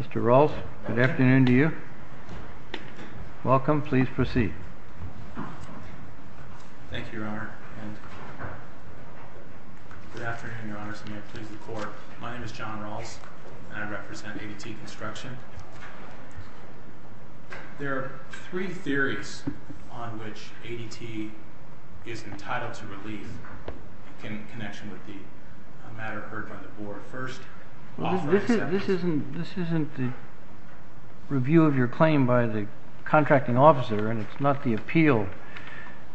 Mr. Rawls, good afternoon to you. Welcome, please proceed. Thank you, Your Honor. Good afternoon, Your Honor. My name is John Rawls, and I represent on which ADT is entitled to relief in connection with the matter heard by the board first. This isn't the review of your claim by the contracting officer, and it's not the appeal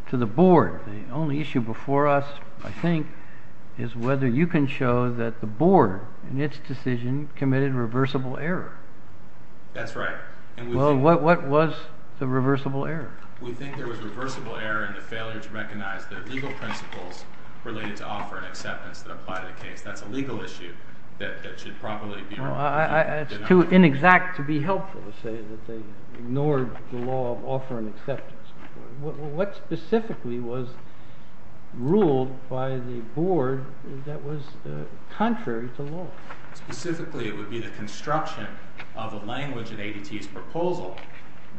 to the board. The only issue before us, I think, is whether you can show that the board, in its decision, committed reversible error. That's right. Well, what was the reversible error? We think there was reversible error in the failure to recognize the legal principles related to offer and acceptance that apply to the case. That's a legal issue that should probably be— Well, it's too inexact to be helpful to say that they ignored the law of offer and acceptance. What specifically was ruled by the board that was contrary to law? Specifically, it would be the construction of a language in ADT's proposal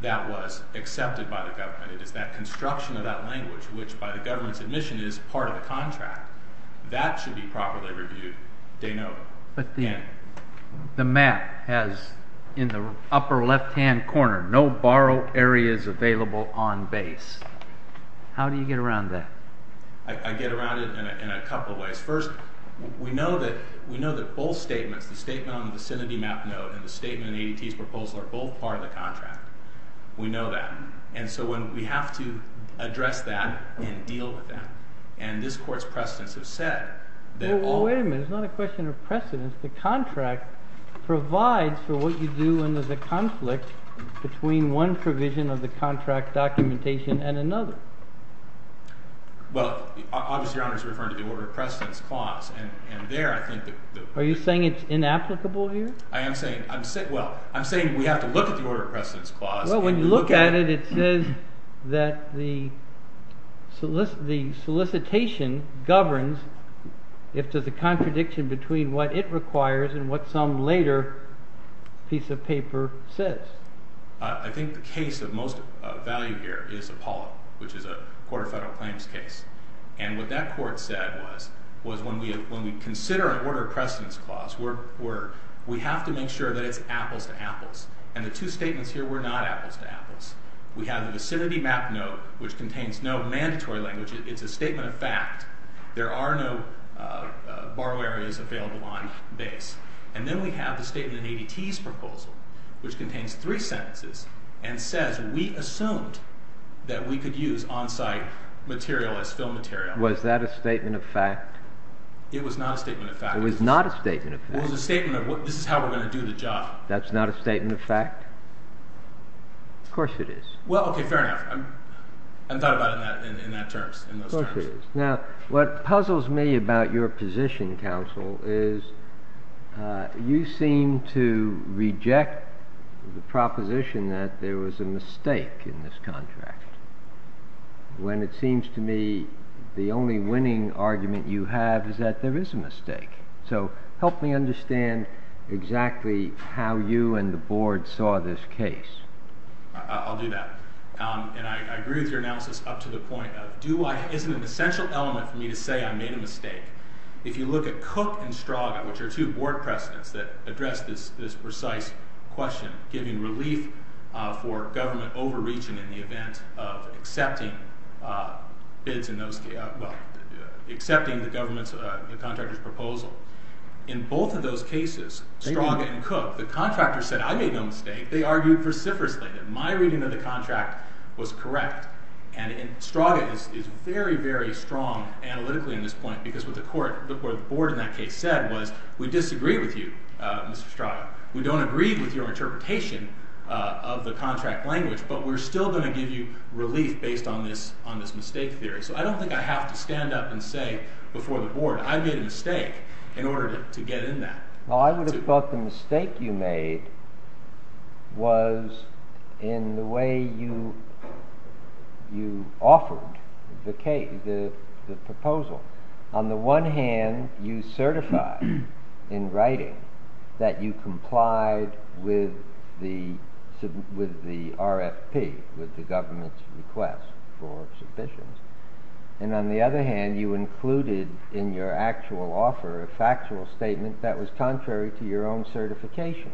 that was accepted by the government. It is that construction of that language, which, by the government's admission, is part of the contract. That should be properly reviewed, de novo. But the map has, in the upper left-hand corner, no borrow areas available on base. How do you get around that? I get around it in a couple of ways. First, we know that both statements, the statement on the vicinity map note and the statement in ADT's proposal, are both part of the contract. We know that. And so we have to address that and deal with that. And this Court's precedents have said that all— Well, wait a minute. It's not a question of precedents. The contract provides for what you do when there's a conflict between one provision of the contract documentation and another. Well, obviously, Your Honor is referring to the order of precedence clause. And there, I think— Are you saying it's inapplicable here? I am saying—well, I'm saying we have to look at the order of precedence clause. Well, when you look at it, it says that the solicitation governs if there's a contradiction between what it requires and what some later piece of paper says. I think the case of most value here is Apollo, which is a Court of Federal Claims case. And what that Court said was when we consider an order of precedence clause, we have to make sure that it's apples to apples. And the two statements here were not apples to apples. We have the vicinity map note, which contains no mandatory language. It's a statement of fact. There are no borrow areas available on base. And then we have the statement in ADT's proposal, which contains three sentences and says we assumed that we could use on-site material as film material. Was that a statement of fact? It was not a statement of fact. It was not a statement of fact. It was a statement of this is how we're going to do the job. That's not a statement of fact? Of course it is. Well, okay, fair enough. I haven't thought about it in those terms. Now, what puzzles me about your position, counsel, is you seem to reject the proposition that there was a mistake in this contract. When it seems to me the only winning argument you have is that there is a mistake. So help me understand exactly how you and the board saw this case. I'll do that. And I agree with your analysis up to the point of isn't it an essential element for me to say I made a mistake? If you look at Cook and Straga, which are two board presidents that addressed this precise question, giving relief for government overreaching in the event of accepting the government contractor's proposal. In both of those cases, Straga and Cook, the contractor said I made no mistake. They argued vociferously that my reading of the contract was correct. And Straga is very, very strong analytically in this point because what the board in that case said was we disagree with you, Mr. Straga. We don't agree with your interpretation of the contract language, but we're still going to give you relief based on this mistake theory. So I don't think I have to stand up and say before the board I made a mistake in order to get in that. Well, I would have thought the mistake you made was in the way you offered the proposal. On the one hand, you certified in writing that you complied with the RFP, with the government's request for submissions. And on the other hand, you included in your actual offer a factual statement that was contrary to your own certification.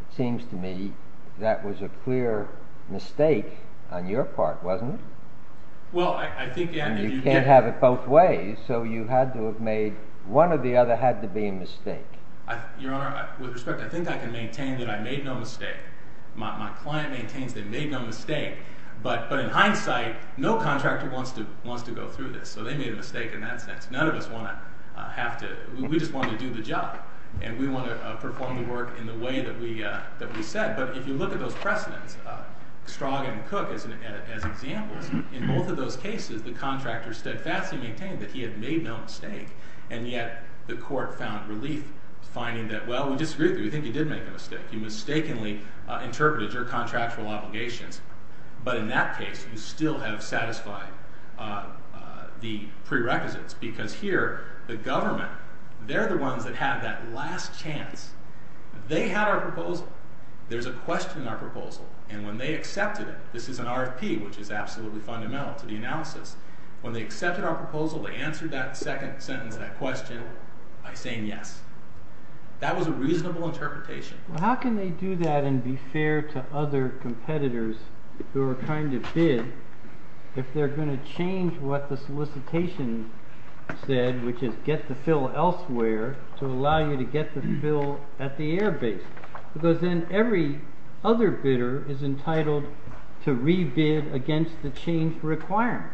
It seems to me that was a clear mistake on your part, wasn't it? Well, I think – And you can't have it both ways, so you had to have made – one or the other had to be a mistake. Your Honor, with respect, I think I can maintain that I made no mistake. My client maintains they made no mistake. But in hindsight, no contractor wants to go through this, so they made a mistake in that sense. None of us want to have to – we just want to do the job, and we want to perform the work in the way that we said. But if you look at those precedents, Straga and Cook as examples, in both of those cases the contractor steadfastly maintained that he had made no mistake. And yet the court found relief finding that, well, we disagree with you. We think you did make a mistake. You mistakenly interpreted your contractual obligations. But in that case, you still have satisfied the prerequisites. Because here, the government, they're the ones that have that last chance. They had our proposal. There's a question in our proposal. And when they accepted it – this is an RFP, which is absolutely fundamental to the analysis. When they accepted our proposal, they answered that second sentence, that question, by saying yes. That was a reasonable interpretation. Well, how can they do that and be fair to other competitors who are trying to bid if they're going to change what the solicitation said, which is get the fill elsewhere to allow you to get the fill at the airbase? Because then every other bidder is entitled to re-bid against the change requirement.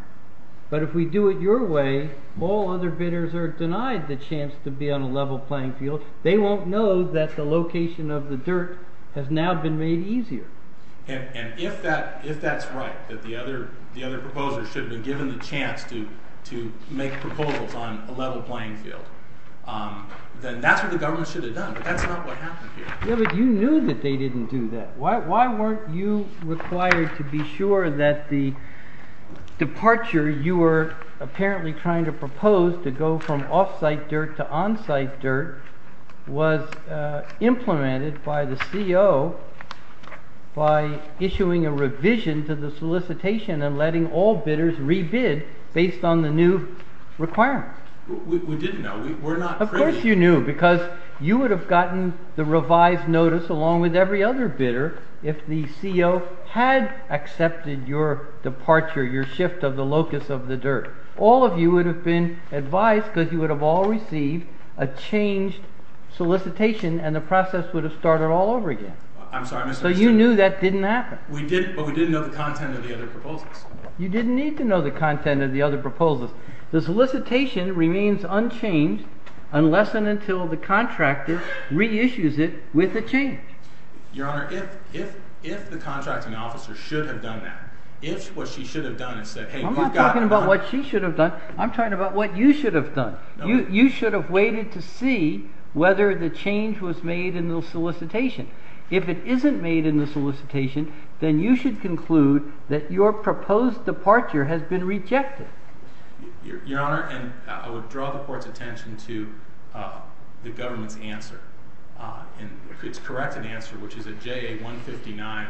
But if we do it your way, all other bidders are denied the chance to be on a level playing field. They won't know that the location of the dirt has now been made easier. And if that's right, that the other proposers should have been given the chance to make proposals on a level playing field, then that's what the government should have done. But that's not what happened here. Yeah, but you knew that they didn't do that. Why weren't you required to be sure that the departure you were apparently trying to propose to go from off-site dirt to on-site dirt was implemented by the CO by issuing a revision to the solicitation and letting all bidders re-bid based on the new requirement? We didn't know. Of course you knew because you would have gotten the revised notice along with every other bidder if the CO had accepted your departure, your shift of the locus of the dirt. All of you would have been advised because you would have all received a changed solicitation and the process would have started all over again. So you knew that didn't happen. We did, but we didn't know the content of the other proposals. You didn't need to know the content of the other proposals. The solicitation remains unchanged unless and until the contractor re-issues it with a change. Your Honor, if the contracting officer should have done that, if what she should have done is said, Hey, we've got… I'm not talking about what she should have done. I'm talking about what you should have done. You should have waited to see whether the change was made in the solicitation. If it isn't made in the solicitation, then you should conclude that your proposed departure has been rejected. Your Honor, and I would draw the Court's attention to the government's answer. It's corrected answer, which is at JA 159,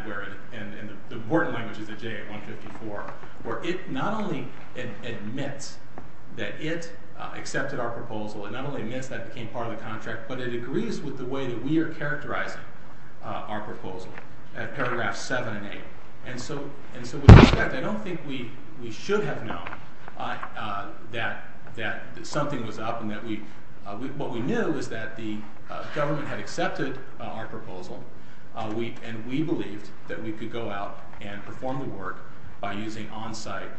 and the important language is at JA 154, where it not only admits that it accepted our proposal, it not only admits that it became part of the contract, but it agrees with the way that we are characterizing our proposal at paragraphs 7 and 8. And so with respect, I don't think we should have known that something was up. What we knew is that the government had accepted our proposal, and we believed that we could go out and perform the work by using on-site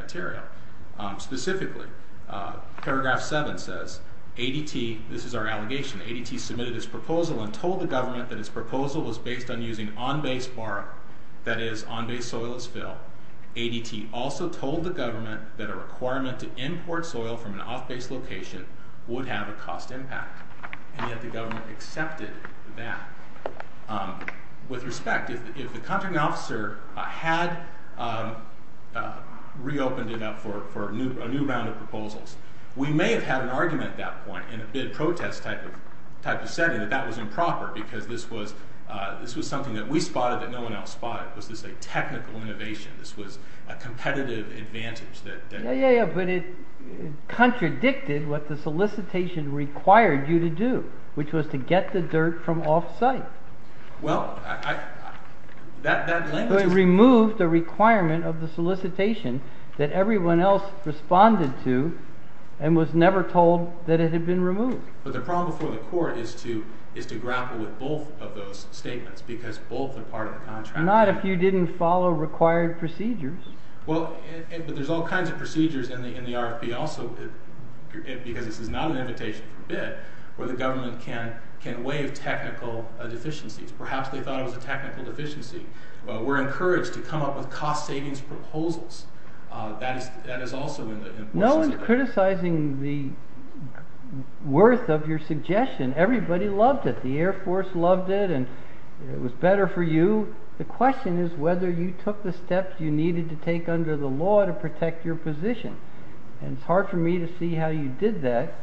material. Specifically, paragraph 7 says, ADT, this is our allegation, ADT submitted its proposal and told the government that its proposal was based on using on-base borrow, that is, on-base soil as fill. ADT also told the government that a requirement to import soil from an off-base location would have a cost impact. And yet the government accepted that. With respect, if the contracting officer had reopened it up for a new round of proposals, we may have had an argument at that point, in a bid protest type of setting, that that was improper because this was something that we spotted that no one else spotted. This was a technical innovation. This was a competitive advantage. Yeah, yeah, yeah, but it contradicted what the solicitation required you to do, which was to get the dirt from off-site. Well, I... It removed the requirement of the solicitation that everyone else responded to and was never told that it had been removed. But the problem before the court is to grapple with both of those statements, because both are part of the contract. Not if you didn't follow required procedures. Well, but there's all kinds of procedures in the RFP also, because this is not an invitation for a bid, where the government can waive technical deficiencies. Perhaps they thought it was a technical deficiency. We're encouraged to come up with cost savings proposals. That is also in the solicitation. I wasn't criticizing the worth of your suggestion. Everybody loved it. The Air Force loved it, and it was better for you. The question is whether you took the steps you needed to take under the law to protect your position. And it's hard for me to see how you did that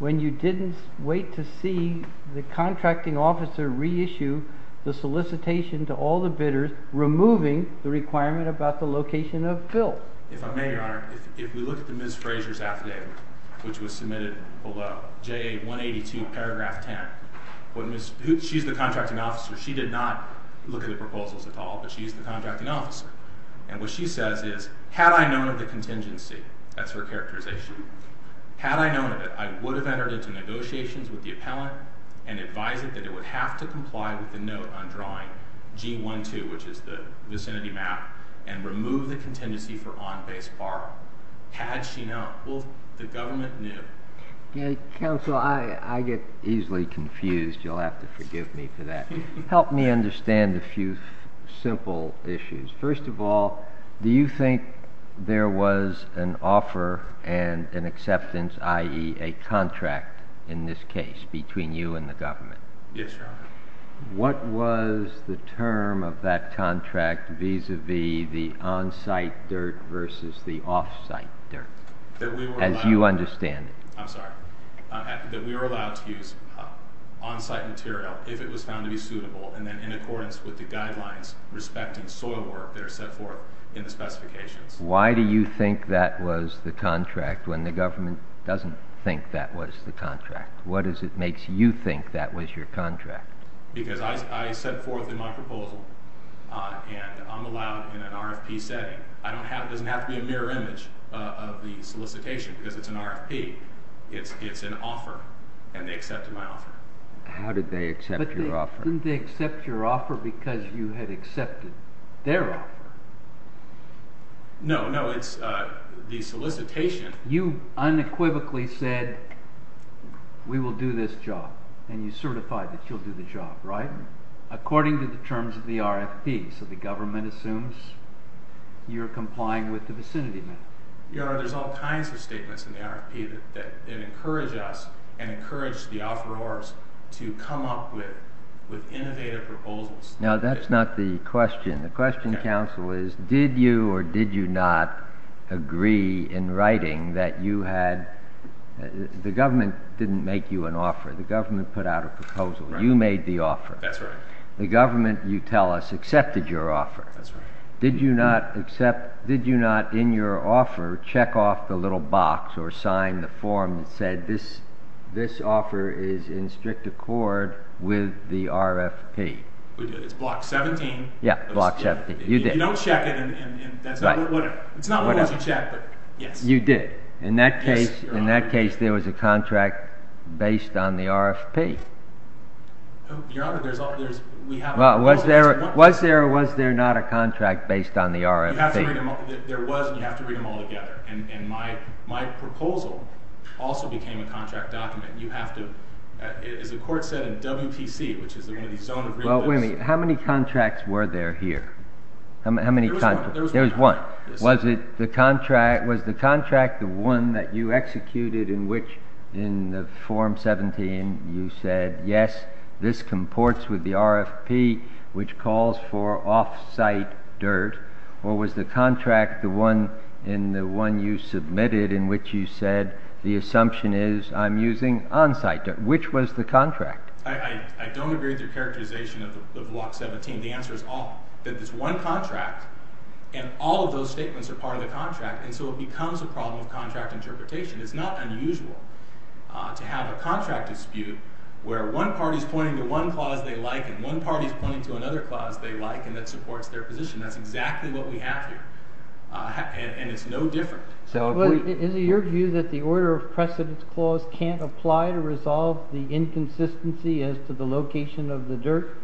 when you didn't wait to see the contracting officer reissue the solicitation to all the bidders, removing the requirement about the location of Phil. If I may, Your Honor, if we look at the Ms. Frazier's affidavit, which was submitted below, JA 182, paragraph 10. She's the contracting officer. She did not look at the proposals at all, but she's the contracting officer. And what she says is, had I known of the contingency, that's her characterization, had I known of it, I would have entered into negotiations with the appellant and advised it that it would have to comply with the note on drawing G12, which is the vicinity map, and remove the contingency for on-base borrow. Had she known, well, the government knew. Counsel, I get easily confused. You'll have to forgive me for that. Help me understand a few simple issues. First of all, do you think there was an offer and an acceptance, i.e., a contract in this case between you and the government? Yes, Your Honor. What was the term of that contract vis-a-vis the on-site dirt versus the off-site dirt, as you understand it? I'm sorry. That we were allowed to use on-site material if it was found to be suitable and then in accordance with the guidelines respecting soil work that are set forth in the specifications. Why do you think that was the contract when the government doesn't think that was the contract? What is it that makes you think that was your contract? Because I set forth in my proposal, and I'm allowed in an RFP setting. It doesn't have to be a mirror image of the solicitation because it's an RFP. It's an offer, and they accepted my offer. How did they accept your offer? Didn't they accept your offer because you had accepted their offer? No, no. It's the solicitation. You unequivocally said, we will do this job, and you certified that you'll do the job, right? According to the terms of the RFP. So the government assumes you're complying with the vicinity method. Your Honor, there's all kinds of statements in the RFP that encourage us and encourage the offerors to come up with innovative proposals. No, that's not the question. The question, counsel, is did you or did you not agree in writing that you had the government didn't make you an offer. The government put out a proposal. You made the offer. That's right. The government, you tell us, accepted your offer. That's right. Did you not in your offer check off the little box or sign the form that said this offer is in strict accord with the RFP? It's block 17. Yeah, block 17. You did. You don't check it. It's not always you check, but yes. You did. Yes, Your Honor. In that case, there was a contract based on the RFP. Your Honor, we have a proposal. Was there or was there not a contract based on the RFP? There was, and you have to read them all together. And my proposal also became a contract document. You have to, as the court said in WPC, which is one of these zone agreements. Well, wait a minute. How many contracts were there here? How many contracts? There was one. There was one. Was the contract the one that you executed in which in the form 17 you said, yes, this comports with the RFP, which calls for off-site dirt, or was the contract the one you submitted in which you said, the assumption is I'm using on-site dirt? Which was the contract? I don't agree with your characterization of Block 17. The answer is all. That there's one contract, and all of those statements are part of the contract, and so it becomes a problem of contract interpretation. It's not unusual to have a contract dispute where one party is pointing to one clause they like and one party is pointing to another clause they like and that supports their position. That's exactly what we have here, and it's no different. Is it your view that the order of precedence clause can't apply to resolve the inconsistency as to the location of the dirt?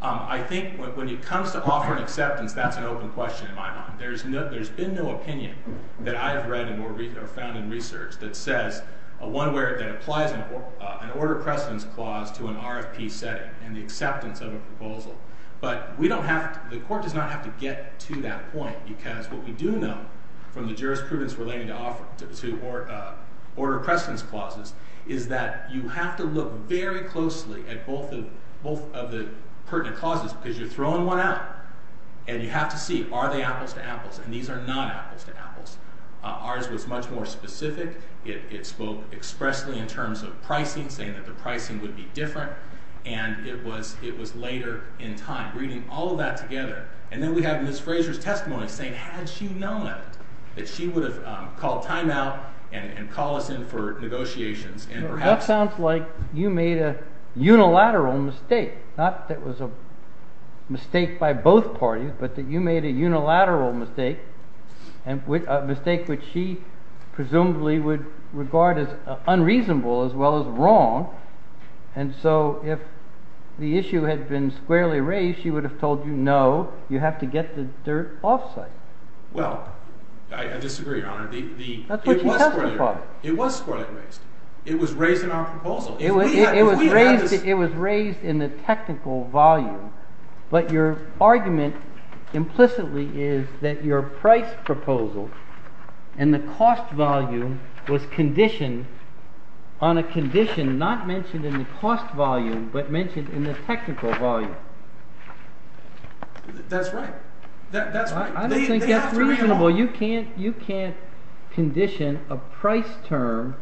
I think when it comes to offering acceptance, that's an open question in my mind. There's been no opinion that I've read or found in research that says one where it applies an order of precedence clause to an RFP setting and the acceptance of a proposal. But the court does not have to get to that point because what we do know from the jurisprudence relating to order of precedence clauses is that you have to look very closely at both of the pertinent clauses because you're throwing one out and you have to see are they apples to apples and these are not apples to apples. Ours was much more specific. It spoke expressly in terms of pricing, saying that the pricing would be different, and it was later in time, reading all of that together. And then we have Ms. Fraser's testimony saying, had she known it, that she would have called timeout and called us in for negotiations. That sounds like you made a unilateral mistake, not that it was a mistake by both parties, but that you made a unilateral mistake, a mistake which she presumably would regard as unreasonable as well as wrong. And so if the issue had been squarely raised, she would have told you, no, you have to get the dirt off site. Well, I disagree, Your Honor. That's what she tells me about it. It was squarely raised. It was raised in our proposal. It was raised in the technical volume, but your argument implicitly is that your price proposal and the cost volume was conditioned on a condition not mentioned in the cost volume, but mentioned in the technical volume. That's right. I don't think that's reasonable. You can't condition a price term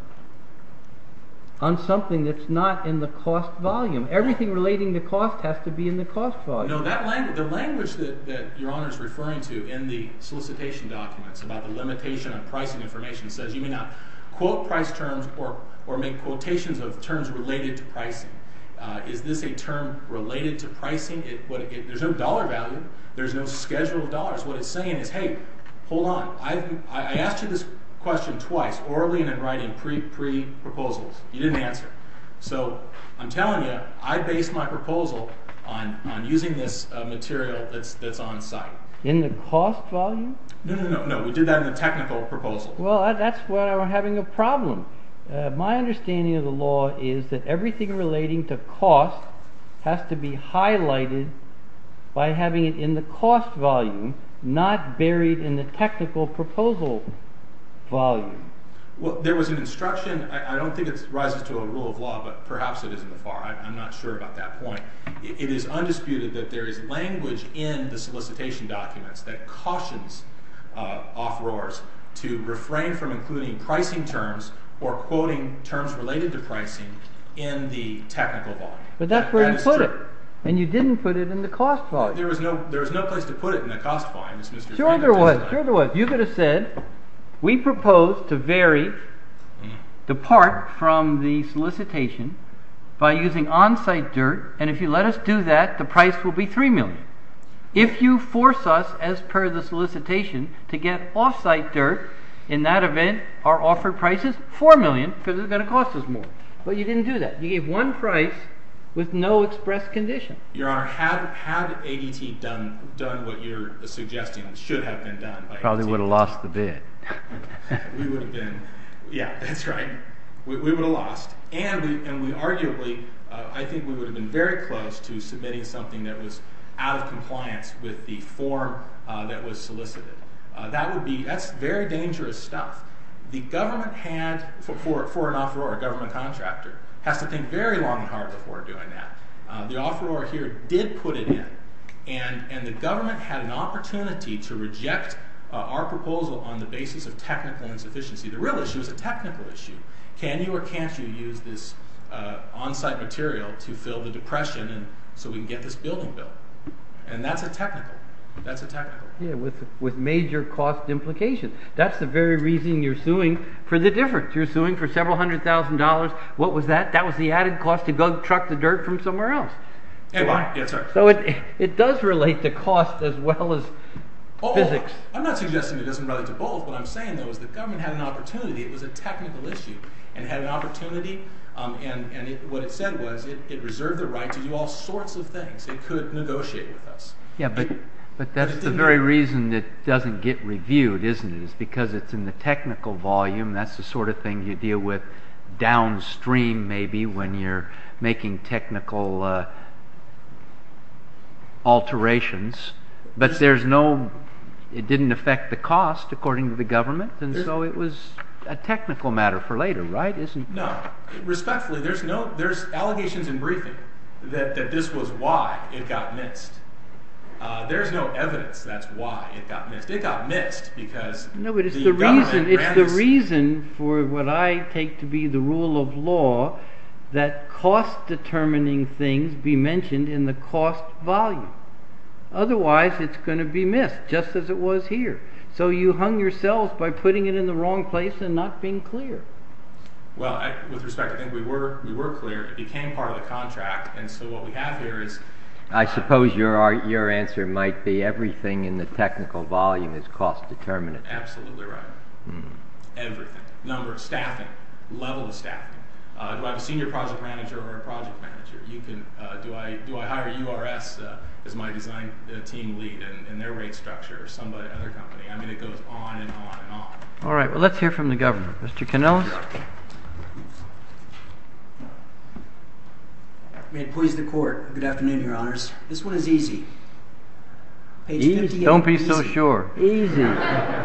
on something that's not in the cost volume. Everything relating to cost has to be in the cost volume. No, the language that Your Honor is referring to in the solicitation documents about the limitation on pricing information says you may not quote price terms or make quotations of terms related to pricing. Is this a term related to pricing? There's no dollar value. There's no schedule of dollars. What it's saying is, hey, hold on. I asked you this question twice, orally and in writing, pre-proposals. You didn't answer. So I'm telling you, I base my proposal on using this material that's on site. In the cost volume? No, we did that in the technical proposal. Well, that's why we're having a problem. My understanding of the law is that everything relating to cost has to be highlighted by having it in the cost volume, not buried in the technical proposal volume. Well, there was an instruction. I don't think it rises to a rule of law, but perhaps it is in the FAR. I'm not sure about that point. It is undisputed that there is language in the solicitation documents that cautions offerors to refrain from including pricing terms or quoting terms related to pricing in the technical volume. But that's where you put it, and you didn't put it in the cost volume. There was no place to put it in the cost volume. Sure there was. You could have said, we propose to vary the part from the solicitation by using on-site dirt, and if you let us do that, the price will be $3 million. If you force us, as per the solicitation, to get off-site dirt, in that event, our offered price is $4 million because it's going to cost us more. But you didn't do that. You gave one price with no express condition. Your Honor, had ADT done what you're suggesting should have been done Probably would have lost the bid. We would have been, yeah, that's right. We would have lost, and we arguably, I think we would have been very close to submitting something that was out of compliance with the form that was solicited. That's very dangerous stuff. The government had, for an offeror, a government contractor, has to think very long and hard before doing that. The offeror here did put it in, and the government had an opportunity to reject our proposal on the basis of technical insufficiency. The real issue is a technical issue. Can you or can't you use this on-site material to fill the depression so we can get this building built? And that's a technical issue. With major cost implications. That's the very reason you're suing for the difference. You're suing for several hundred thousand dollars. What was that? That was the added cost to go truck the dirt from somewhere else. So it does relate to cost as well as physics. I'm not suggesting it doesn't relate to both. What I'm saying, though, is the government had an opportunity. It was a technical issue and had an opportunity, and what it said was it reserved the right to do all sorts of things. It could negotiate with us. But that's the very reason it doesn't get reviewed, isn't it? It's because it's in the technical volume. That's the sort of thing you deal with downstream, maybe, when you're making technical alterations. But it didn't affect the cost, according to the government, and so it was a technical matter for later, right? No. Respectfully, there's allegations in briefing that this was why it got missed. There's no evidence that's why it got missed. It got missed because the government granted it. It's the reason for what I take to be the rule of law that cost-determining things be mentioned in the cost volume. Otherwise, it's going to be missed, just as it was here. So you hung yourselves by putting it in the wrong place and not being clear. Well, with respect, I think we were clear. It became part of the contract, and so what we have here is— I suppose your answer might be everything in the technical volume is cost-determinant. Absolutely right. Everything. Number of staffing, level of staffing. Do I have a senior project manager or a project manager? Do I hire URS as my design team lead in their rate structure or some other company? I mean, it goes on and on and on. All right. Well, let's hear from the government. Mr. Kanellis? May it please the Court. Good afternoon, Your Honors. This one is easy. Don't be so sure. Easy.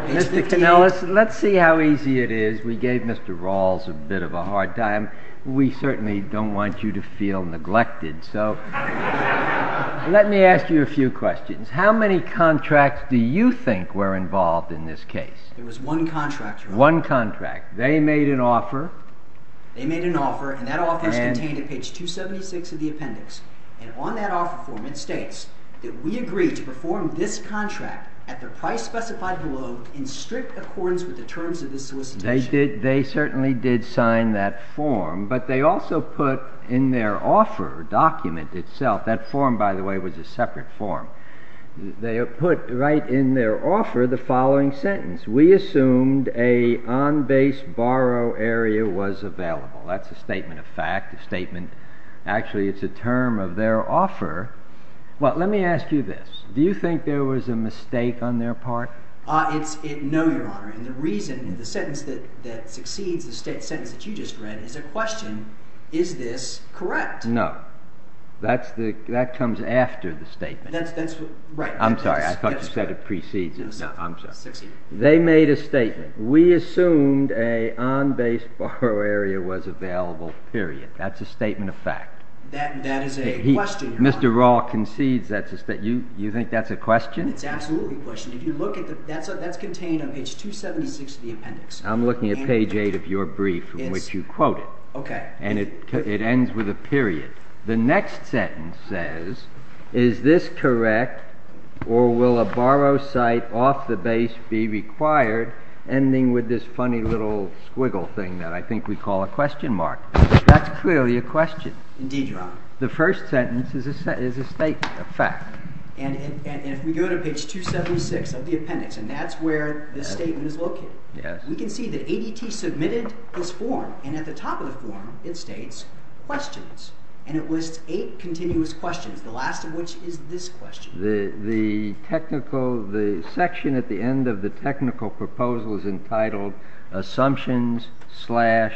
Mr. Kanellis, let's see how easy it is. We gave Mr. Rawls a bit of a hard time. We certainly don't want you to feel neglected. So let me ask you a few questions. How many contracts do you think were involved in this case? There was one contract, Your Honor. One contract. They made an offer. They made an offer, and that offer is contained at page 276 of the appendix. And on that offer form it states that we agree to perform this contract at the price specified below in strict accordance with the terms of this solicitation. They certainly did sign that form, but they also put in their offer document itself. That form, by the way, was a separate form. They put right in their offer the following sentence. We assumed a on-base borrow area was available. That's a statement of fact, a statement. Actually, it's a term of their offer. Well, let me ask you this. No, Your Honor. And the reason, the sentence that succeeds the sentence that you just read is a question, is this correct? No. That comes after the statement. That's right. I'm sorry. I thought you said it precedes it. I'm sorry. They made a statement. We assumed a on-base borrow area was available, period. That's a statement of fact. That is a question, Your Honor. You think that's a question? It's absolutely a question. That's contained on page 276 of the appendix. I'm looking at page 8 of your brief in which you quote it. Okay. And it ends with a period. The next sentence says, is this correct, or will a borrow site off the base be required, ending with this funny little squiggle thing that I think we call a question mark? That's clearly a question. The first sentence is a statement of fact. And if we go to page 276 of the appendix, and that's where the statement is located, we can see that ADT submitted this form, and at the top of the form it states questions. And it lists eight continuous questions, the last of which is this question. The section at the end of the technical proposal is entitled Assumptions slash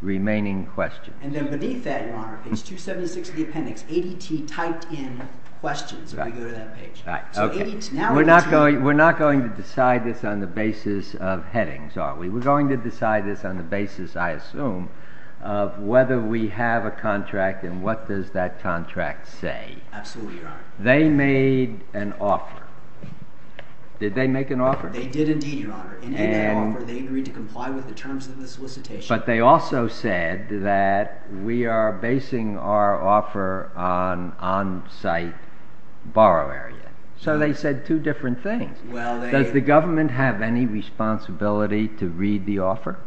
Remaining Questions. And then beneath that, Your Honor, page 276 of the appendix, ADT typed in questions when we go to that page. We're not going to decide this on the basis of headings, are we? We're going to decide this on the basis, I assume, of whether we have a contract and what does that contract say. Absolutely, Your Honor. They made an offer. Did they make an offer? They did indeed, Your Honor. In that offer, they agreed to comply with the terms of the solicitation. But they also said that we are basing our offer on on-site borrow area. So they said two different things. Does the government have any responsibility to read the offer?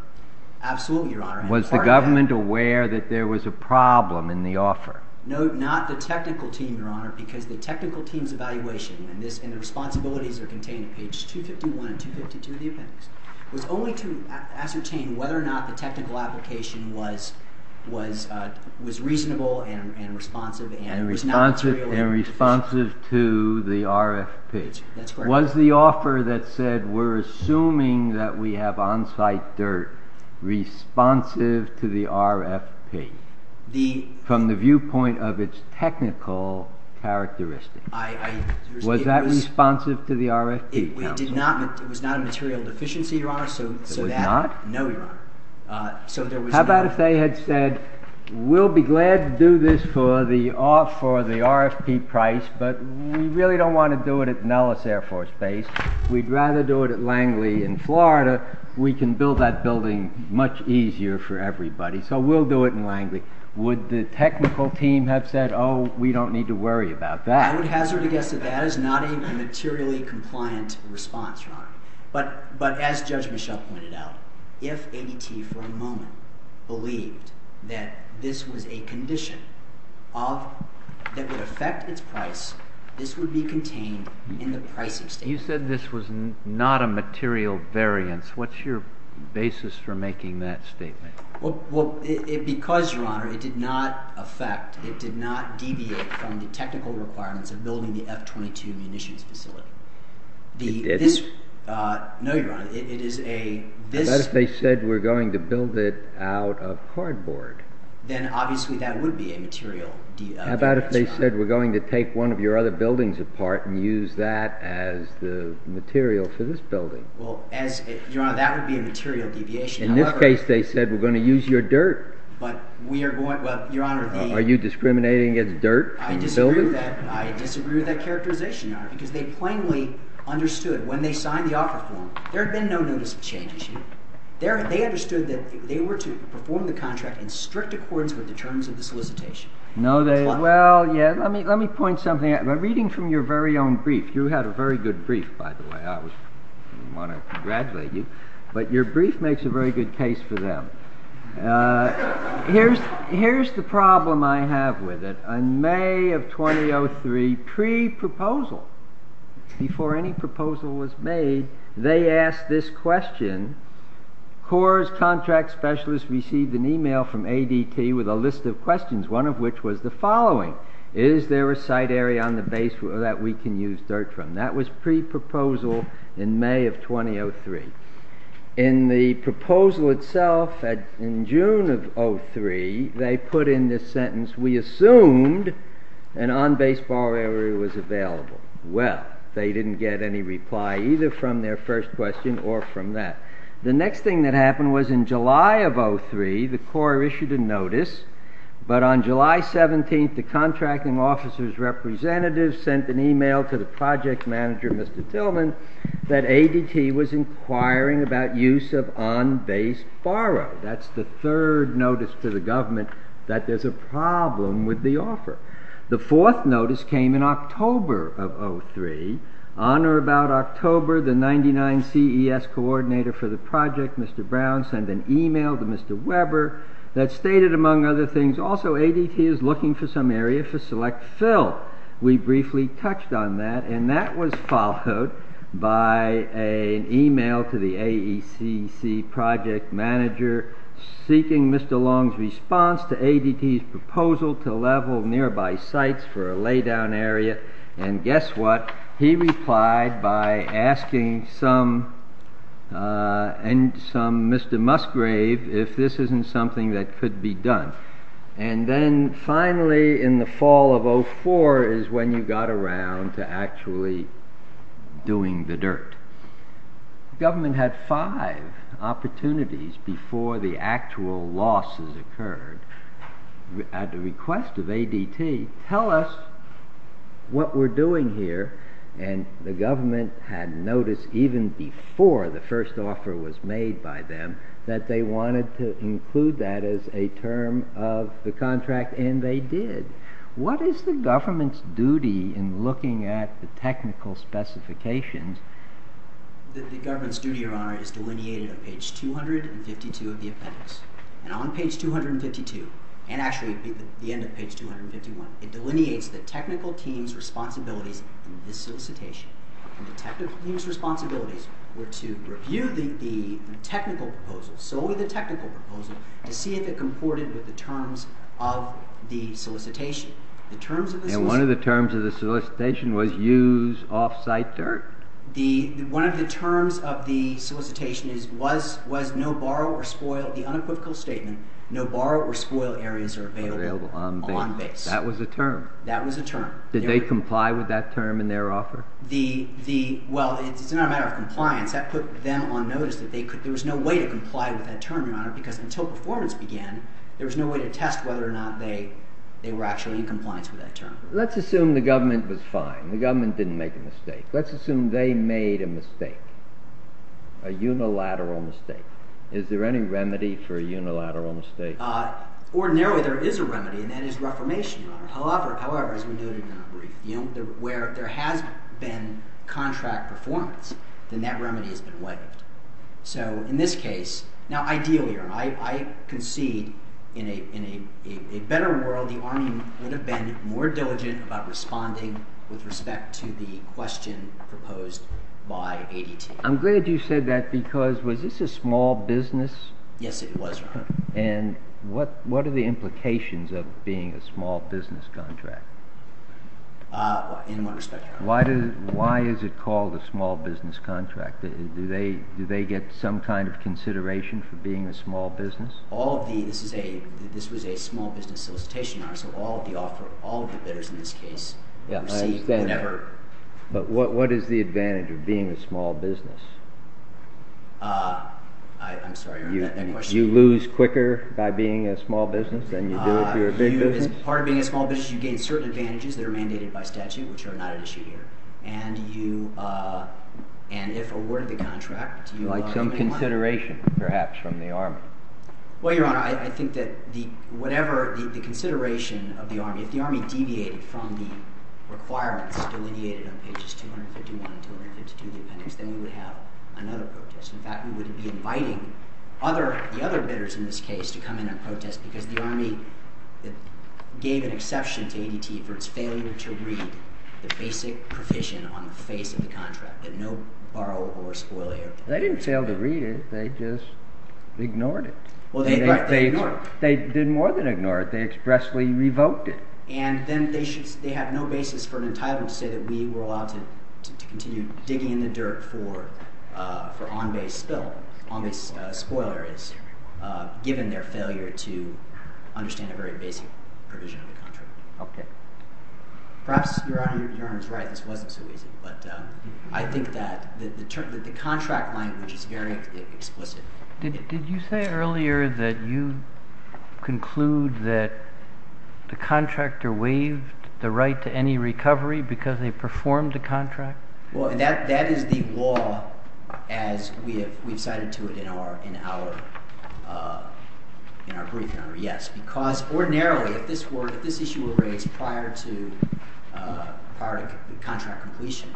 Absolutely, Your Honor. Was the government aware that there was a problem in the offer? No, not the technical team, Your Honor, because the technical team's evaluation, and the responsibilities are contained on pages 251 and 252 of the appendix, was only to ascertain whether or not the technical application was reasonable and responsive and was not material deficient. And responsive to the RFP. That's correct. Was the offer that said we're assuming that we have on-site dirt responsive to the RFP from the viewpoint of its technical characteristics? Was that responsive to the RFP, counsel? It was not a material deficiency, Your Honor. It was not? No, Your Honor. How about if they had said, we'll be glad to do this for the RFP price, but we really don't want to do it at Nellis Air Force Base. We'd rather do it at Langley in Florida. We can build that building much easier for everybody. So we'll do it in Langley. Would the technical team have said, oh, we don't need to worry about that? I would hazard a guess that that is not a materially compliant response, Your Honor. But as Judge Mischel pointed out, if ADT for a moment believed that this was a condition that would affect its price, this would be contained in the pricing statement. You said this was not a material variance. What's your basis for making that statement? Well, because, Your Honor, it did not affect, it did not deviate from the technical requirements of building the F-22 munitions facility. It did? No, Your Honor. How about if they said, we're going to build it out of cardboard? Then obviously that would be a material deviation. How about if they said, we're going to take one of your other buildings apart and use that as the material for this building? Well, Your Honor, that would be a material deviation. In this case, they said, we're going to use your dirt. Are you discriminating against dirt and buildings? I disagree with that characterization, Your Honor, because they plainly understood when they signed the offer form, there had been no notice of change issue. They understood that they were to perform the contract in strict accordance with the terms of the solicitation. Well, yeah. Let me point something out. Reading from your very own brief, you had a very good brief, by the way. I want to congratulate you. But your brief makes a very good case for them. Here's the problem I have with it. In May of 2003, pre-proposal, before any proposal was made, they asked this question. CORE's contract specialist received an email from ADT with a list of questions, one of which was the following. Is there a site area on the base that we can use dirt from? That was pre-proposal in May of 2003. In the proposal itself, in June of 2003, they put in this sentence, we assumed an on-baseball area was available. Well, they didn't get any reply either from their first question or from that. The next thing that happened was in July of 2003, the CORE issued a notice. But on July 17th, the contracting officer's representative sent an email to the project manager, Mr. Tillman, that ADT was inquiring about use of on-base borrow. That's the third notice to the government that there's a problem with the offer. The fourth notice came in October of 2003. On or about October, the 99 CES coordinator for the project, Mr. Brown, sent an email to Mr. Weber that stated, among other things, also ADT is looking for some area for select fill. We briefly touched on that, and that was followed by an email to the AECC project manager seeking Mr. Long's response to ADT's proposal to level nearby sites for a lay-down area. And guess what? He replied by asking some Mr. Musgrave if this isn't something that could be done. And then finally in the fall of 2004 is when you got around to actually doing the dirt. The government had five opportunities before the actual losses occurred. At the request of ADT, tell us what we're doing here, and the government had noticed even before the first offer was made by them that they wanted to include that as a term of the contract, and they did. What is the government's duty in looking at the technical specifications? The government's duty, Your Honor, is delineated on page 252 of the appendix. And on page 252, and actually the end of page 251, it delineates the technical team's responsibilities in this solicitation. And the technical team's responsibilities were to review the technical proposal, solely the technical proposal, to see if it comported with the terms of the solicitation. And one of the terms of the solicitation was use off-site dirt? One of the terms of the solicitation was no borrow or spoil. The unequivocal statement, no borrow or spoil areas are available on base. That was a term? That was a term. Did they comply with that term in their offer? Well, it's not a matter of compliance. That put them on notice that there was no way to comply with that term, Your Honor, because until performance began, there was no way to test whether or not they were actually in compliance with that term. Let's assume the government was fine. The government didn't make a mistake. Let's assume they made a mistake, a unilateral mistake. Is there any remedy for a unilateral mistake? Ordinarily, there is a remedy, and that is reformation, Your Honor. However, as we noted in our brief, where there has been contract performance, then that remedy has been waived. So in this case, now ideally, Your Honor, I concede in a better world, the Army would have been more diligent about responding with respect to the question proposed by ADT. I'm glad you said that because was this a small business? Yes, it was, Your Honor. And what are the implications of being a small business contract? In what respect, Your Honor? Why is it called a small business contract? Do they get some kind of consideration for being a small business? This was a small business solicitation, Your Honor, so all of the bidders in this case received whatever. But what is the advantage of being a small business? I'm sorry, Your Honor. You lose quicker by being a small business than you do if you're a big business? As part of being a small business, you gain certain advantages that are mandated by statute, which are not at issue here. Like some consideration, perhaps, from the Army? Well, Your Honor, I think that whatever the consideration of the Army, if the Army deviated from the requirements delineated on pages 251 and 252 of the appendix, then you would have another protest. In fact, we wouldn't be inviting the other bidders in this case to come in and protest because the Army gave an exception to ADT for its failure to read the basic provision on the face of the contract, that no borrow or spoil air. They didn't fail to read it. They just ignored it. Well, they ignored it. They did more than ignore it. They expressly revoked it. And then they have no basis for an entitlement to say that we were allowed to continue digging in the dirt for on-base spill. On-base spoil air is given their failure to understand a very basic provision of the contract. Okay. Perhaps Your Honor is right. This wasn't so easy. But I think that the contract language is very explicit. Did you say earlier that you conclude that the contractor waived the right to any recovery because they performed the contract? Well, that is the law as we have cited to it in our brief, Your Honor, yes. Because ordinarily if this issue were raised prior to contract completion,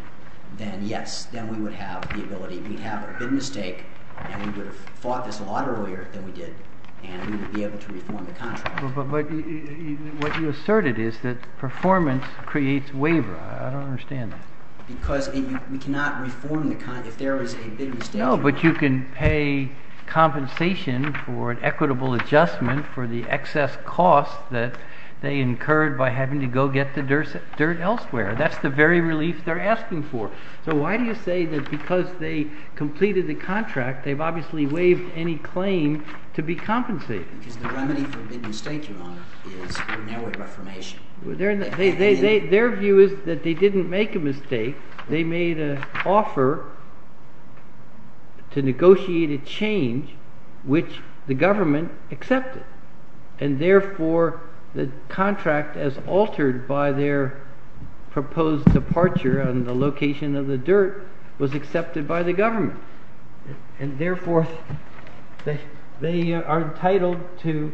then yes, then we would have the ability. We'd have a bid mistake, and we would have fought this a lot earlier than we did, and we would be able to reform the contract. But what you asserted is that performance creates waiver. I don't understand that. Because we cannot reform the contract if there is a bid mistake. No, but you can pay compensation for an equitable adjustment for the excess cost that they incurred by having to go get the dirt elsewhere. That's the very relief they're asking for. So why do you say that because they completed the contract, they've obviously waived any claim to be compensated? Because the remedy for a bid mistake, Your Honor, is narrowed reformation. Their view is that they didn't make a mistake. They made an offer to negotiate a change which the government accepted. And therefore, the contract as altered by their proposed departure on the location of the dirt was accepted by the government. And therefore, they are entitled to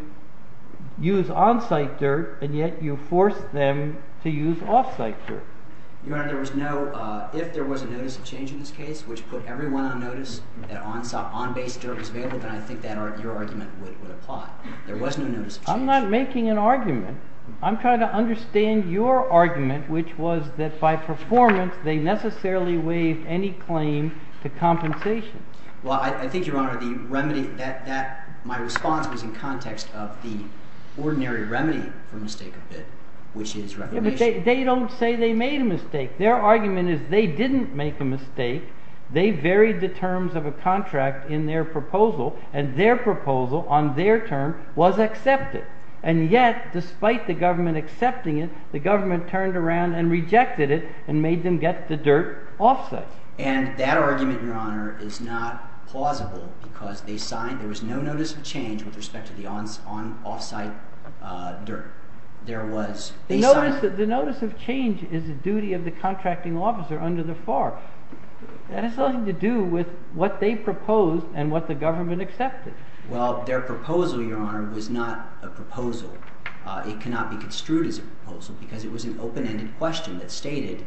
use on-site dirt, and yet you force them to use off-site dirt. Your Honor, if there was a notice of change in this case which put everyone on notice that on-base dirt was available, then I think that argument would apply. There was no notice of change. I'm not making an argument. I'm trying to understand your argument, which was that by performance they necessarily waived any claim to compensation. Well, I think, Your Honor, my response was in context of the ordinary remedy for mistake of bid, which is reformation. Yeah, but they don't say they made a mistake. Their argument is they didn't make a mistake. They varied the terms of a contract in their proposal, and their proposal on their term was accepted. And yet, despite the government accepting it, the government turned around and rejected it and made them get the dirt off-site. And that argument, Your Honor, is not plausible because they signed. There was no notice of change with respect to the off-site dirt. The notice of change is the duty of the contracting officer under the FARC. That has nothing to do with what they proposed and what the government accepted. Well, their proposal, Your Honor, was not a proposal. It cannot be construed as a proposal because it was an open-ended question that stated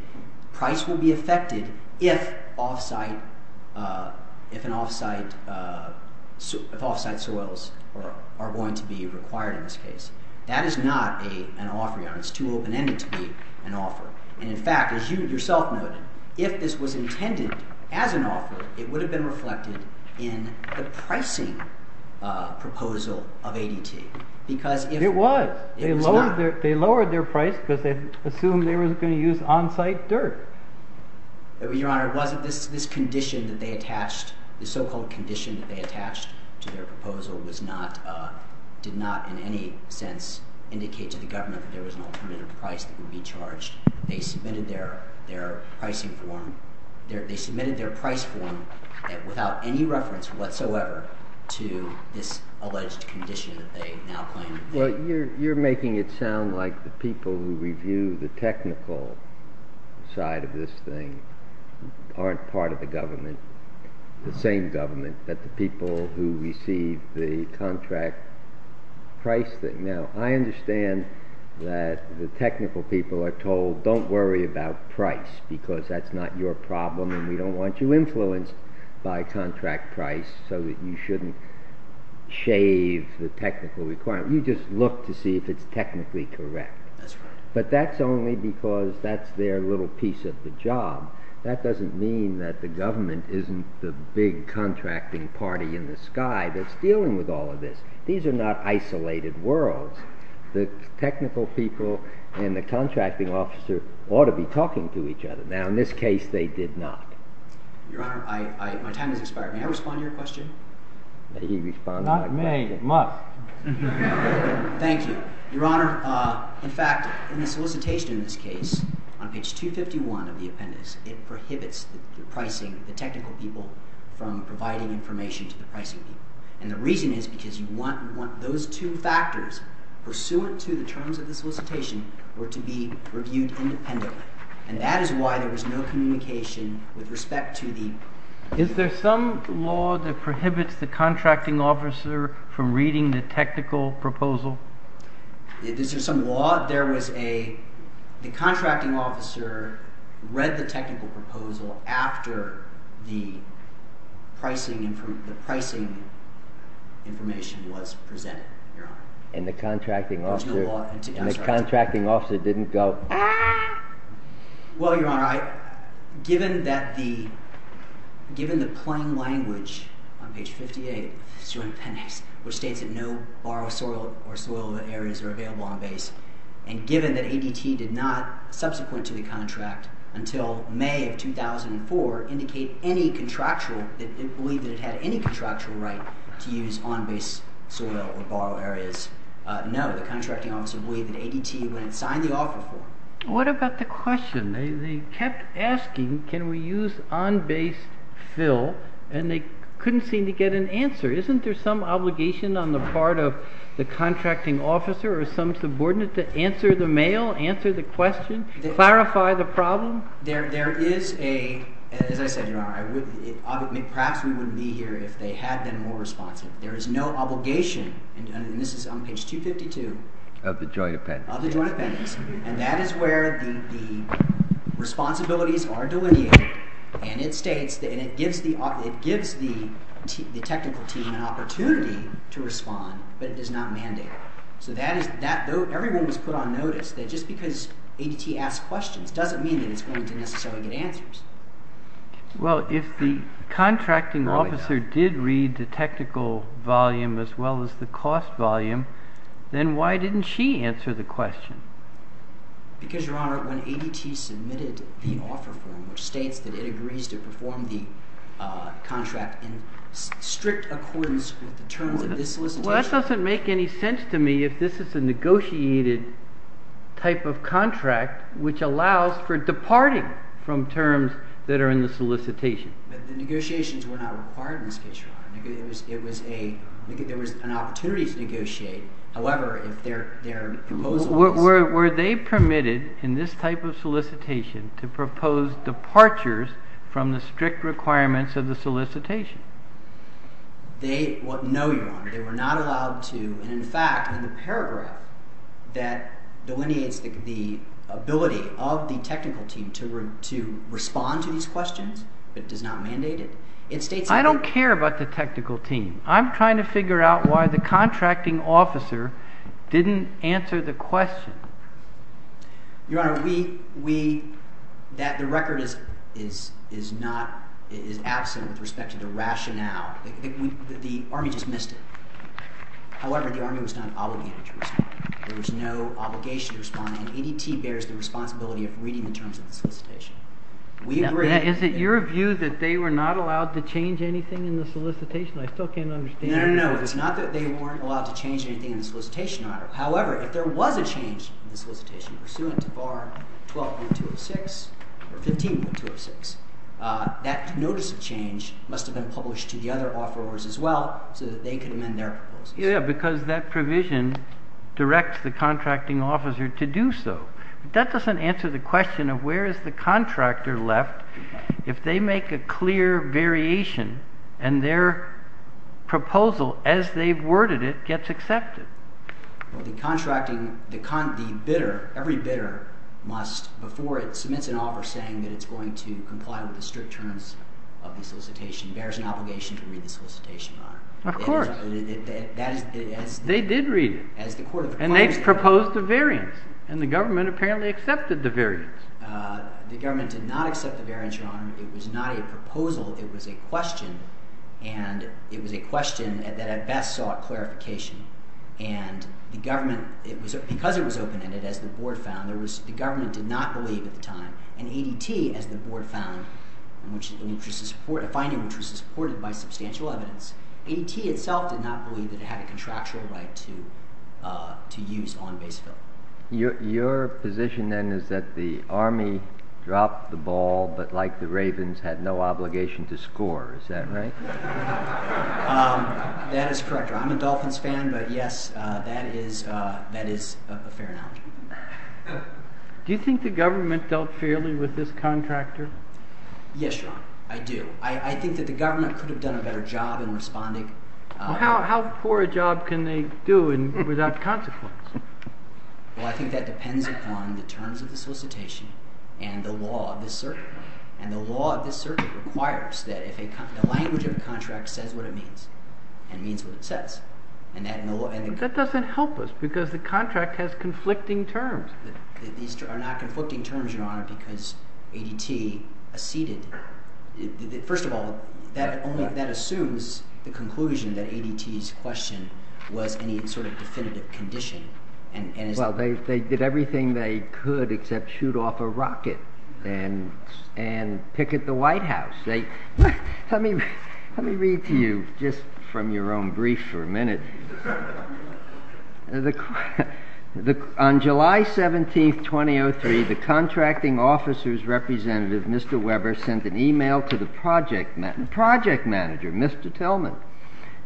price will be affected if off-site soils are going to be required in this case. That is not an offer, Your Honor. It's too open-ended to be an offer. And, in fact, as you yourself noted, if this was intended as an offer, it would have been reflected in the pricing proposal of ADT. It was. It was not. They lowered their price because they assumed they were going to use on-site dirt. Your Honor, it wasn't this condition that they attached. The so-called condition that they attached to their proposal did not in any sense indicate to the government that there was an alternative price that would be charged. They submitted their pricing form. They submitted their price form without any reference whatsoever to this alleged condition that they now claim. Well, you're making it sound like the people who review the technical side of this thing aren't part of the government, the same government, but the people who receive the contract price thing. Now, I understand that the technical people are told, don't worry about price because that's not your problem and we don't want you influenced by contract price so that you shouldn't shave the technical requirement. You just look to see if it's technically correct. That's right. But that's only because that's their little piece of the job. That doesn't mean that the government isn't the big contracting party in the sky that's dealing with all of this. These are not isolated worlds. The technical people and the contracting officer ought to be talking to each other. Now, in this case, they did not. Your Honor, my time has expired. May I respond to your question? May he respond to my question? I may. It must. Thank you. Your Honor, in fact, in the solicitation in this case, on page 251 of the appendix, it prohibits the pricing, the technical people from providing information to the pricing people. And the reason is because you want those two factors pursuant to the terms of the solicitation were to be reviewed independently. And that is why there was no communication with respect to the… Is there some law that prohibits the contracting officer from reading the technical proposal? Is there some law? There was a – the contracting officer read the technical proposal after the pricing information was presented, Your Honor. And the contracting officer didn't go… Well, Your Honor, given that the – given the plain language on page 58 of this joint appendix, which states that no borrow soil or soil areas are available on base, and given that ADT did not, subsequent to the contract, until May of 2004, indicate any contractual – believe that it had any contractual right to use on base soil or borrow areas, no, the contracting officer believed that ADT wouldn't sign the offer for it. What about the question? They kept asking, can we use on base fill, and they couldn't seem to get an answer. Isn't there some obligation on the part of the contracting officer or some subordinate to answer the mail, answer the question, clarify the problem? There is a – as I said, Your Honor, I would – perhaps we wouldn't be here if they had been more responsive. There is no obligation, and this is on page 252… Of the joint appendix. Of the joint appendix, and that is where the responsibilities are delineated, and it states – and it gives the technical team an opportunity to respond, but it does not mandate it. So that is – everyone was put on notice that just because ADT asked questions doesn't mean that it's going to necessarily get answers. Well, if the contracting officer did read the technical volume as well as the cost volume, then why didn't she answer the question? Because, Your Honor, when ADT submitted the offer form, which states that it agrees to perform the contract in strict accordance with the terms of this solicitation… This doesn't make any sense to me if this is a negotiated type of contract which allows for departing from terms that are in the solicitation. But the negotiations were not required in this case, Your Honor. It was a – there was an opportunity to negotiate. However, if their proposal was… Were they permitted in this type of solicitation to propose departures from the strict requirements of the solicitation? No, Your Honor. They were not allowed to, and in fact, in the paragraph that delineates the ability of the technical team to respond to these questions but does not mandate it, it states that… I don't care about the technical team. I'm trying to figure out why the contracting officer didn't answer the question. Your Honor, we – that – the record is not – is absent with respect to the rationale. The Army just missed it. However, the Army was not obligated to respond. There was no obligation to respond, and ADT bears the responsibility of reading the terms of the solicitation. We agree… Is it your view that they were not allowed to change anything in the solicitation? I still can't understand it. No, no, no. It's not that they weren't allowed to change anything in the solicitation, Your Honor. However, if there was a change in the solicitation pursuant to Bar 12.206 or 15.206, that notice of change must have been published to the other offerors as well so that they could amend their proposals. Yeah, because that provision directs the contracting officer to do so. But that doesn't answer the question of where is the contractor left if they make a clear variation and their proposal, as they've worded it, gets accepted. Well, the contracting – the bidder – every bidder must, before it submits an offer saying that it's going to comply with the strict terms of the solicitation, bears an obligation to read the solicitation, Your Honor. Of course. They did read it. As the court of compliance did. And they proposed a variance. And the government apparently accepted the variance. The government did not accept the variance, Your Honor. It was not a proposal. It was a question. And it was a question that at best sought clarification. And the government – because it was open-ended, as the board found – the government did not believe at the time. And ADT, as the board found, a finding which was supported by substantial evidence, ADT itself did not believe that it had a contractual right to use on base fill. Your position then is that the Army dropped the ball but, like the Ravens, had no obligation to score. Is that right? That is correct, Your Honor. I'm a Dolphins fan, but yes, that is a fair analogy. Do you think the government dealt fairly with this contractor? Yes, Your Honor. I do. I think that the government could have done a better job in responding. How poor a job can they do without consequence? Well, I think that depends upon the terms of the solicitation and the law of this circuit. And the law of this circuit requires that if a – the language of a contract says what it means, it means what it says. That doesn't help us because the contract has conflicting terms. These are not conflicting terms, Your Honor, because ADT acceded. First of all, that assumes the conclusion that ADT's question was any sort of definitive condition. Well, they did everything they could except shoot off a rocket and picket the White House. Let me read to you just from your own brief for a minute. On July 17, 2003, the contracting officer's representative, Mr. Weber, sent an email to the project manager, Mr. Tillman,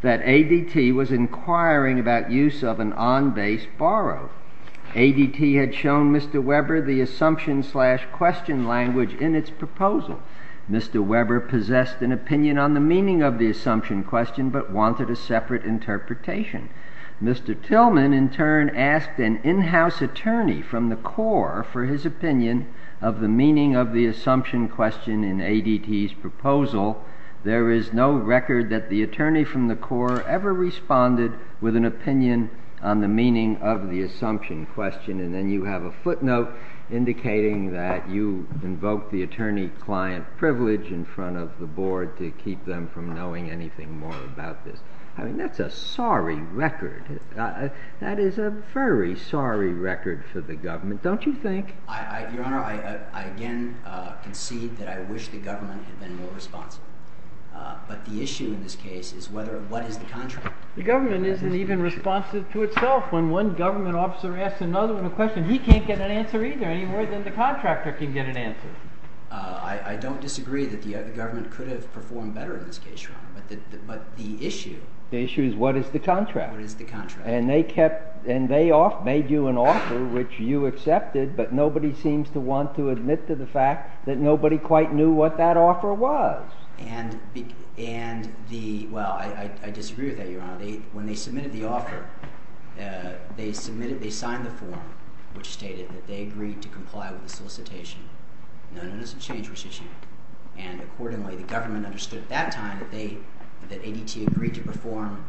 that ADT was inquiring about use of an on-base borrow. ADT had shown Mr. Weber the assumption-slash-question language in its proposal. Mr. Weber possessed an opinion on the meaning of the assumption-question but wanted a separate interpretation. Mr. Tillman, in turn, asked an in-house attorney from the Corps for his opinion of the meaning of the assumption-question in ADT's proposal. There is no record that the attorney from the Corps ever responded with an opinion on the meaning of the assumption-question. And then you have a footnote indicating that you invoked the attorney-client privilege in front of the board to keep them from knowing anything more about this. I mean, that's a sorry record. That is a very sorry record for the government, don't you think? Your Honor, I again concede that I wish the government had been more responsive. But the issue in this case is what is the contract? The government isn't even responsive to itself. When one government officer asks another one a question, he can't get an answer either any more than the contractor can get an answer. I don't disagree that the government could have performed better in this case, Your Honor, but the issue— The issue is what is the contract? What is the contract? And they made you an offer which you accepted, but nobody seems to want to admit to the fact that nobody quite knew what that offer was. And the—well, I disagree with that, Your Honor. When they submitted the offer, they submitted—they signed the form which stated that they agreed to comply with the solicitation. No, no, no, some change was issued. And accordingly, the government understood at that time that they—that ADT agreed to perform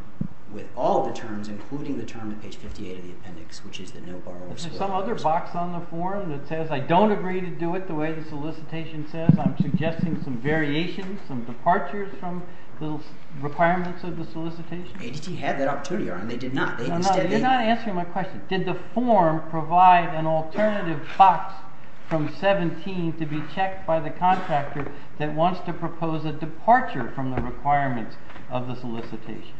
with all the terms, including the term at page 58 of the appendix, which is the no borrowers clause. Is there some other box on the form that says I don't agree to do it the way the solicitation says? I'm suggesting some variations, some departures from the requirements of the solicitation? ADT had that opportunity, Your Honor. They did not. You're not answering my question. Did the form provide an alternative box from 17 to be checked by the contractor that wants to propose a departure from the requirements of the solicitation?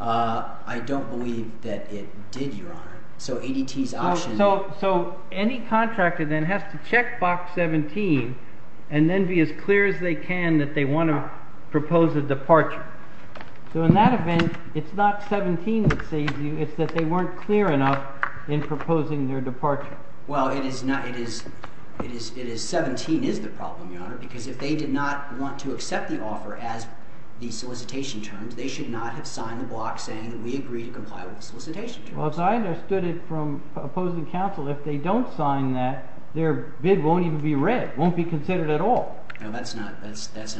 I don't believe that it did, Your Honor. So ADT's option— So any contractor then has to check box 17 and then be as clear as they can that they want to propose a departure. So in that event, it's not 17 that saves you. It's that they weren't clear enough in proposing their departure. Well, it is—17 is the problem, Your Honor, because if they did not want to accept the offer as the solicitation terms, they should not have signed the block saying that we agree to comply with the solicitation terms. Well, as I understood it from opposing counsel, if they don't sign that, their bid won't even be read, won't be considered at all. No, that's not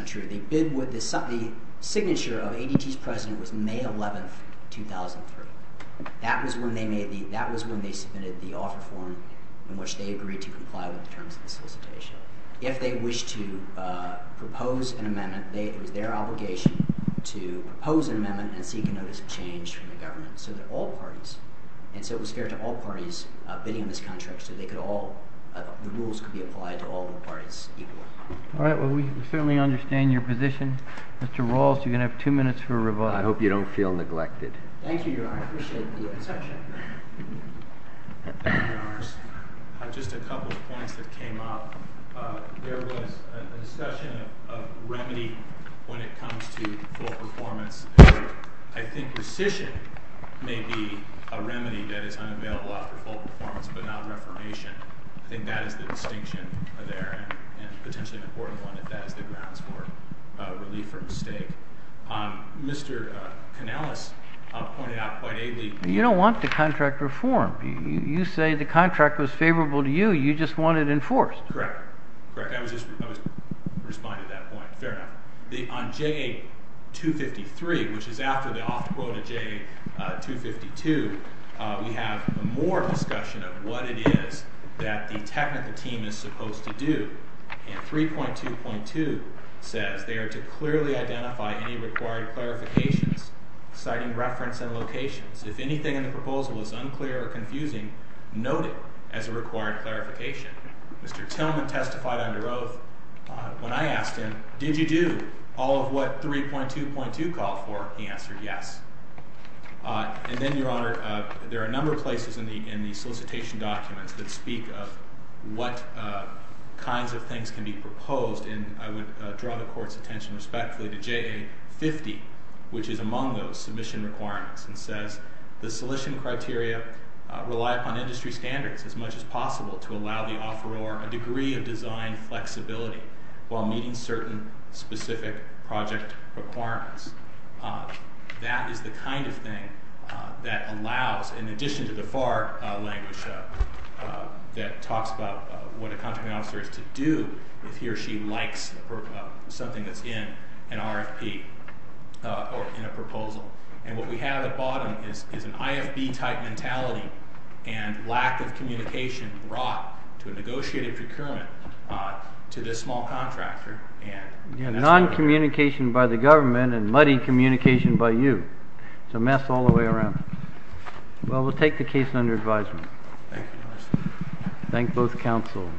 true. The signature of ADT's president was May 11, 2003. That was when they submitted the offer form in which they agreed to comply with the terms of the solicitation. If they wish to propose an amendment, it was their obligation to propose an amendment and seek a notice of change from the government so that all parties—and so it was fair to all parties bidding on this contract so they could all—the rules could be applied to all parties equally. All right. Well, we certainly understand your position. Mr. Rawls, you're going to have two minutes for rebuttal. I hope you don't feel neglected. Thank you, Your Honor. I appreciate it. Thank you, Your Honors. Just a couple of points that came up. There was a discussion of remedy when it comes to full performance. I think rescission may be a remedy that is unavailable after full performance but not reformation. I think that is the distinction there and potentially an important one if that is the grounds for relief or mistake. Mr. Kanellis pointed out quite ably— You don't want the contract reformed. You say the contract was favorable to you. You just want it enforced. Correct. Correct. I was just responding to that point. Fair enough. On JA253, which is after the off quota JA252, we have more discussion of what it is that the technical team is supposed to do. 3.2.2 says they are to clearly identify any required clarifications citing reference and locations. If anything in the proposal is unclear or confusing, note it as a required clarification. Mr. Tillman testified under oath. When I asked him, did you do all of what 3.2.2 called for, he answered yes. And then, Your Honor, there are a number of places in the solicitation documents that speak of what kinds of things can be proposed, and I would draw the Court's attention respectfully to JA50, which is among those submission requirements. It says the solicitation criteria rely upon industry standards as much as possible to allow the offeror a degree of design flexibility while meeting certain specific project requirements. That is the kind of thing that allows, in addition to the FAR language that talks about what a contracting officer is to do if he or she likes something that's in an RFP or in a proposal. And what we have at the bottom is an IFB-type mentality and lack of communication brought to a negotiated procurement to this small contractor. Non-communication by the government and muddy communication by you. It's a mess all the way around. Well, we'll take the case under advisement. Thank you, Mr. Chairman. Thank both counsel.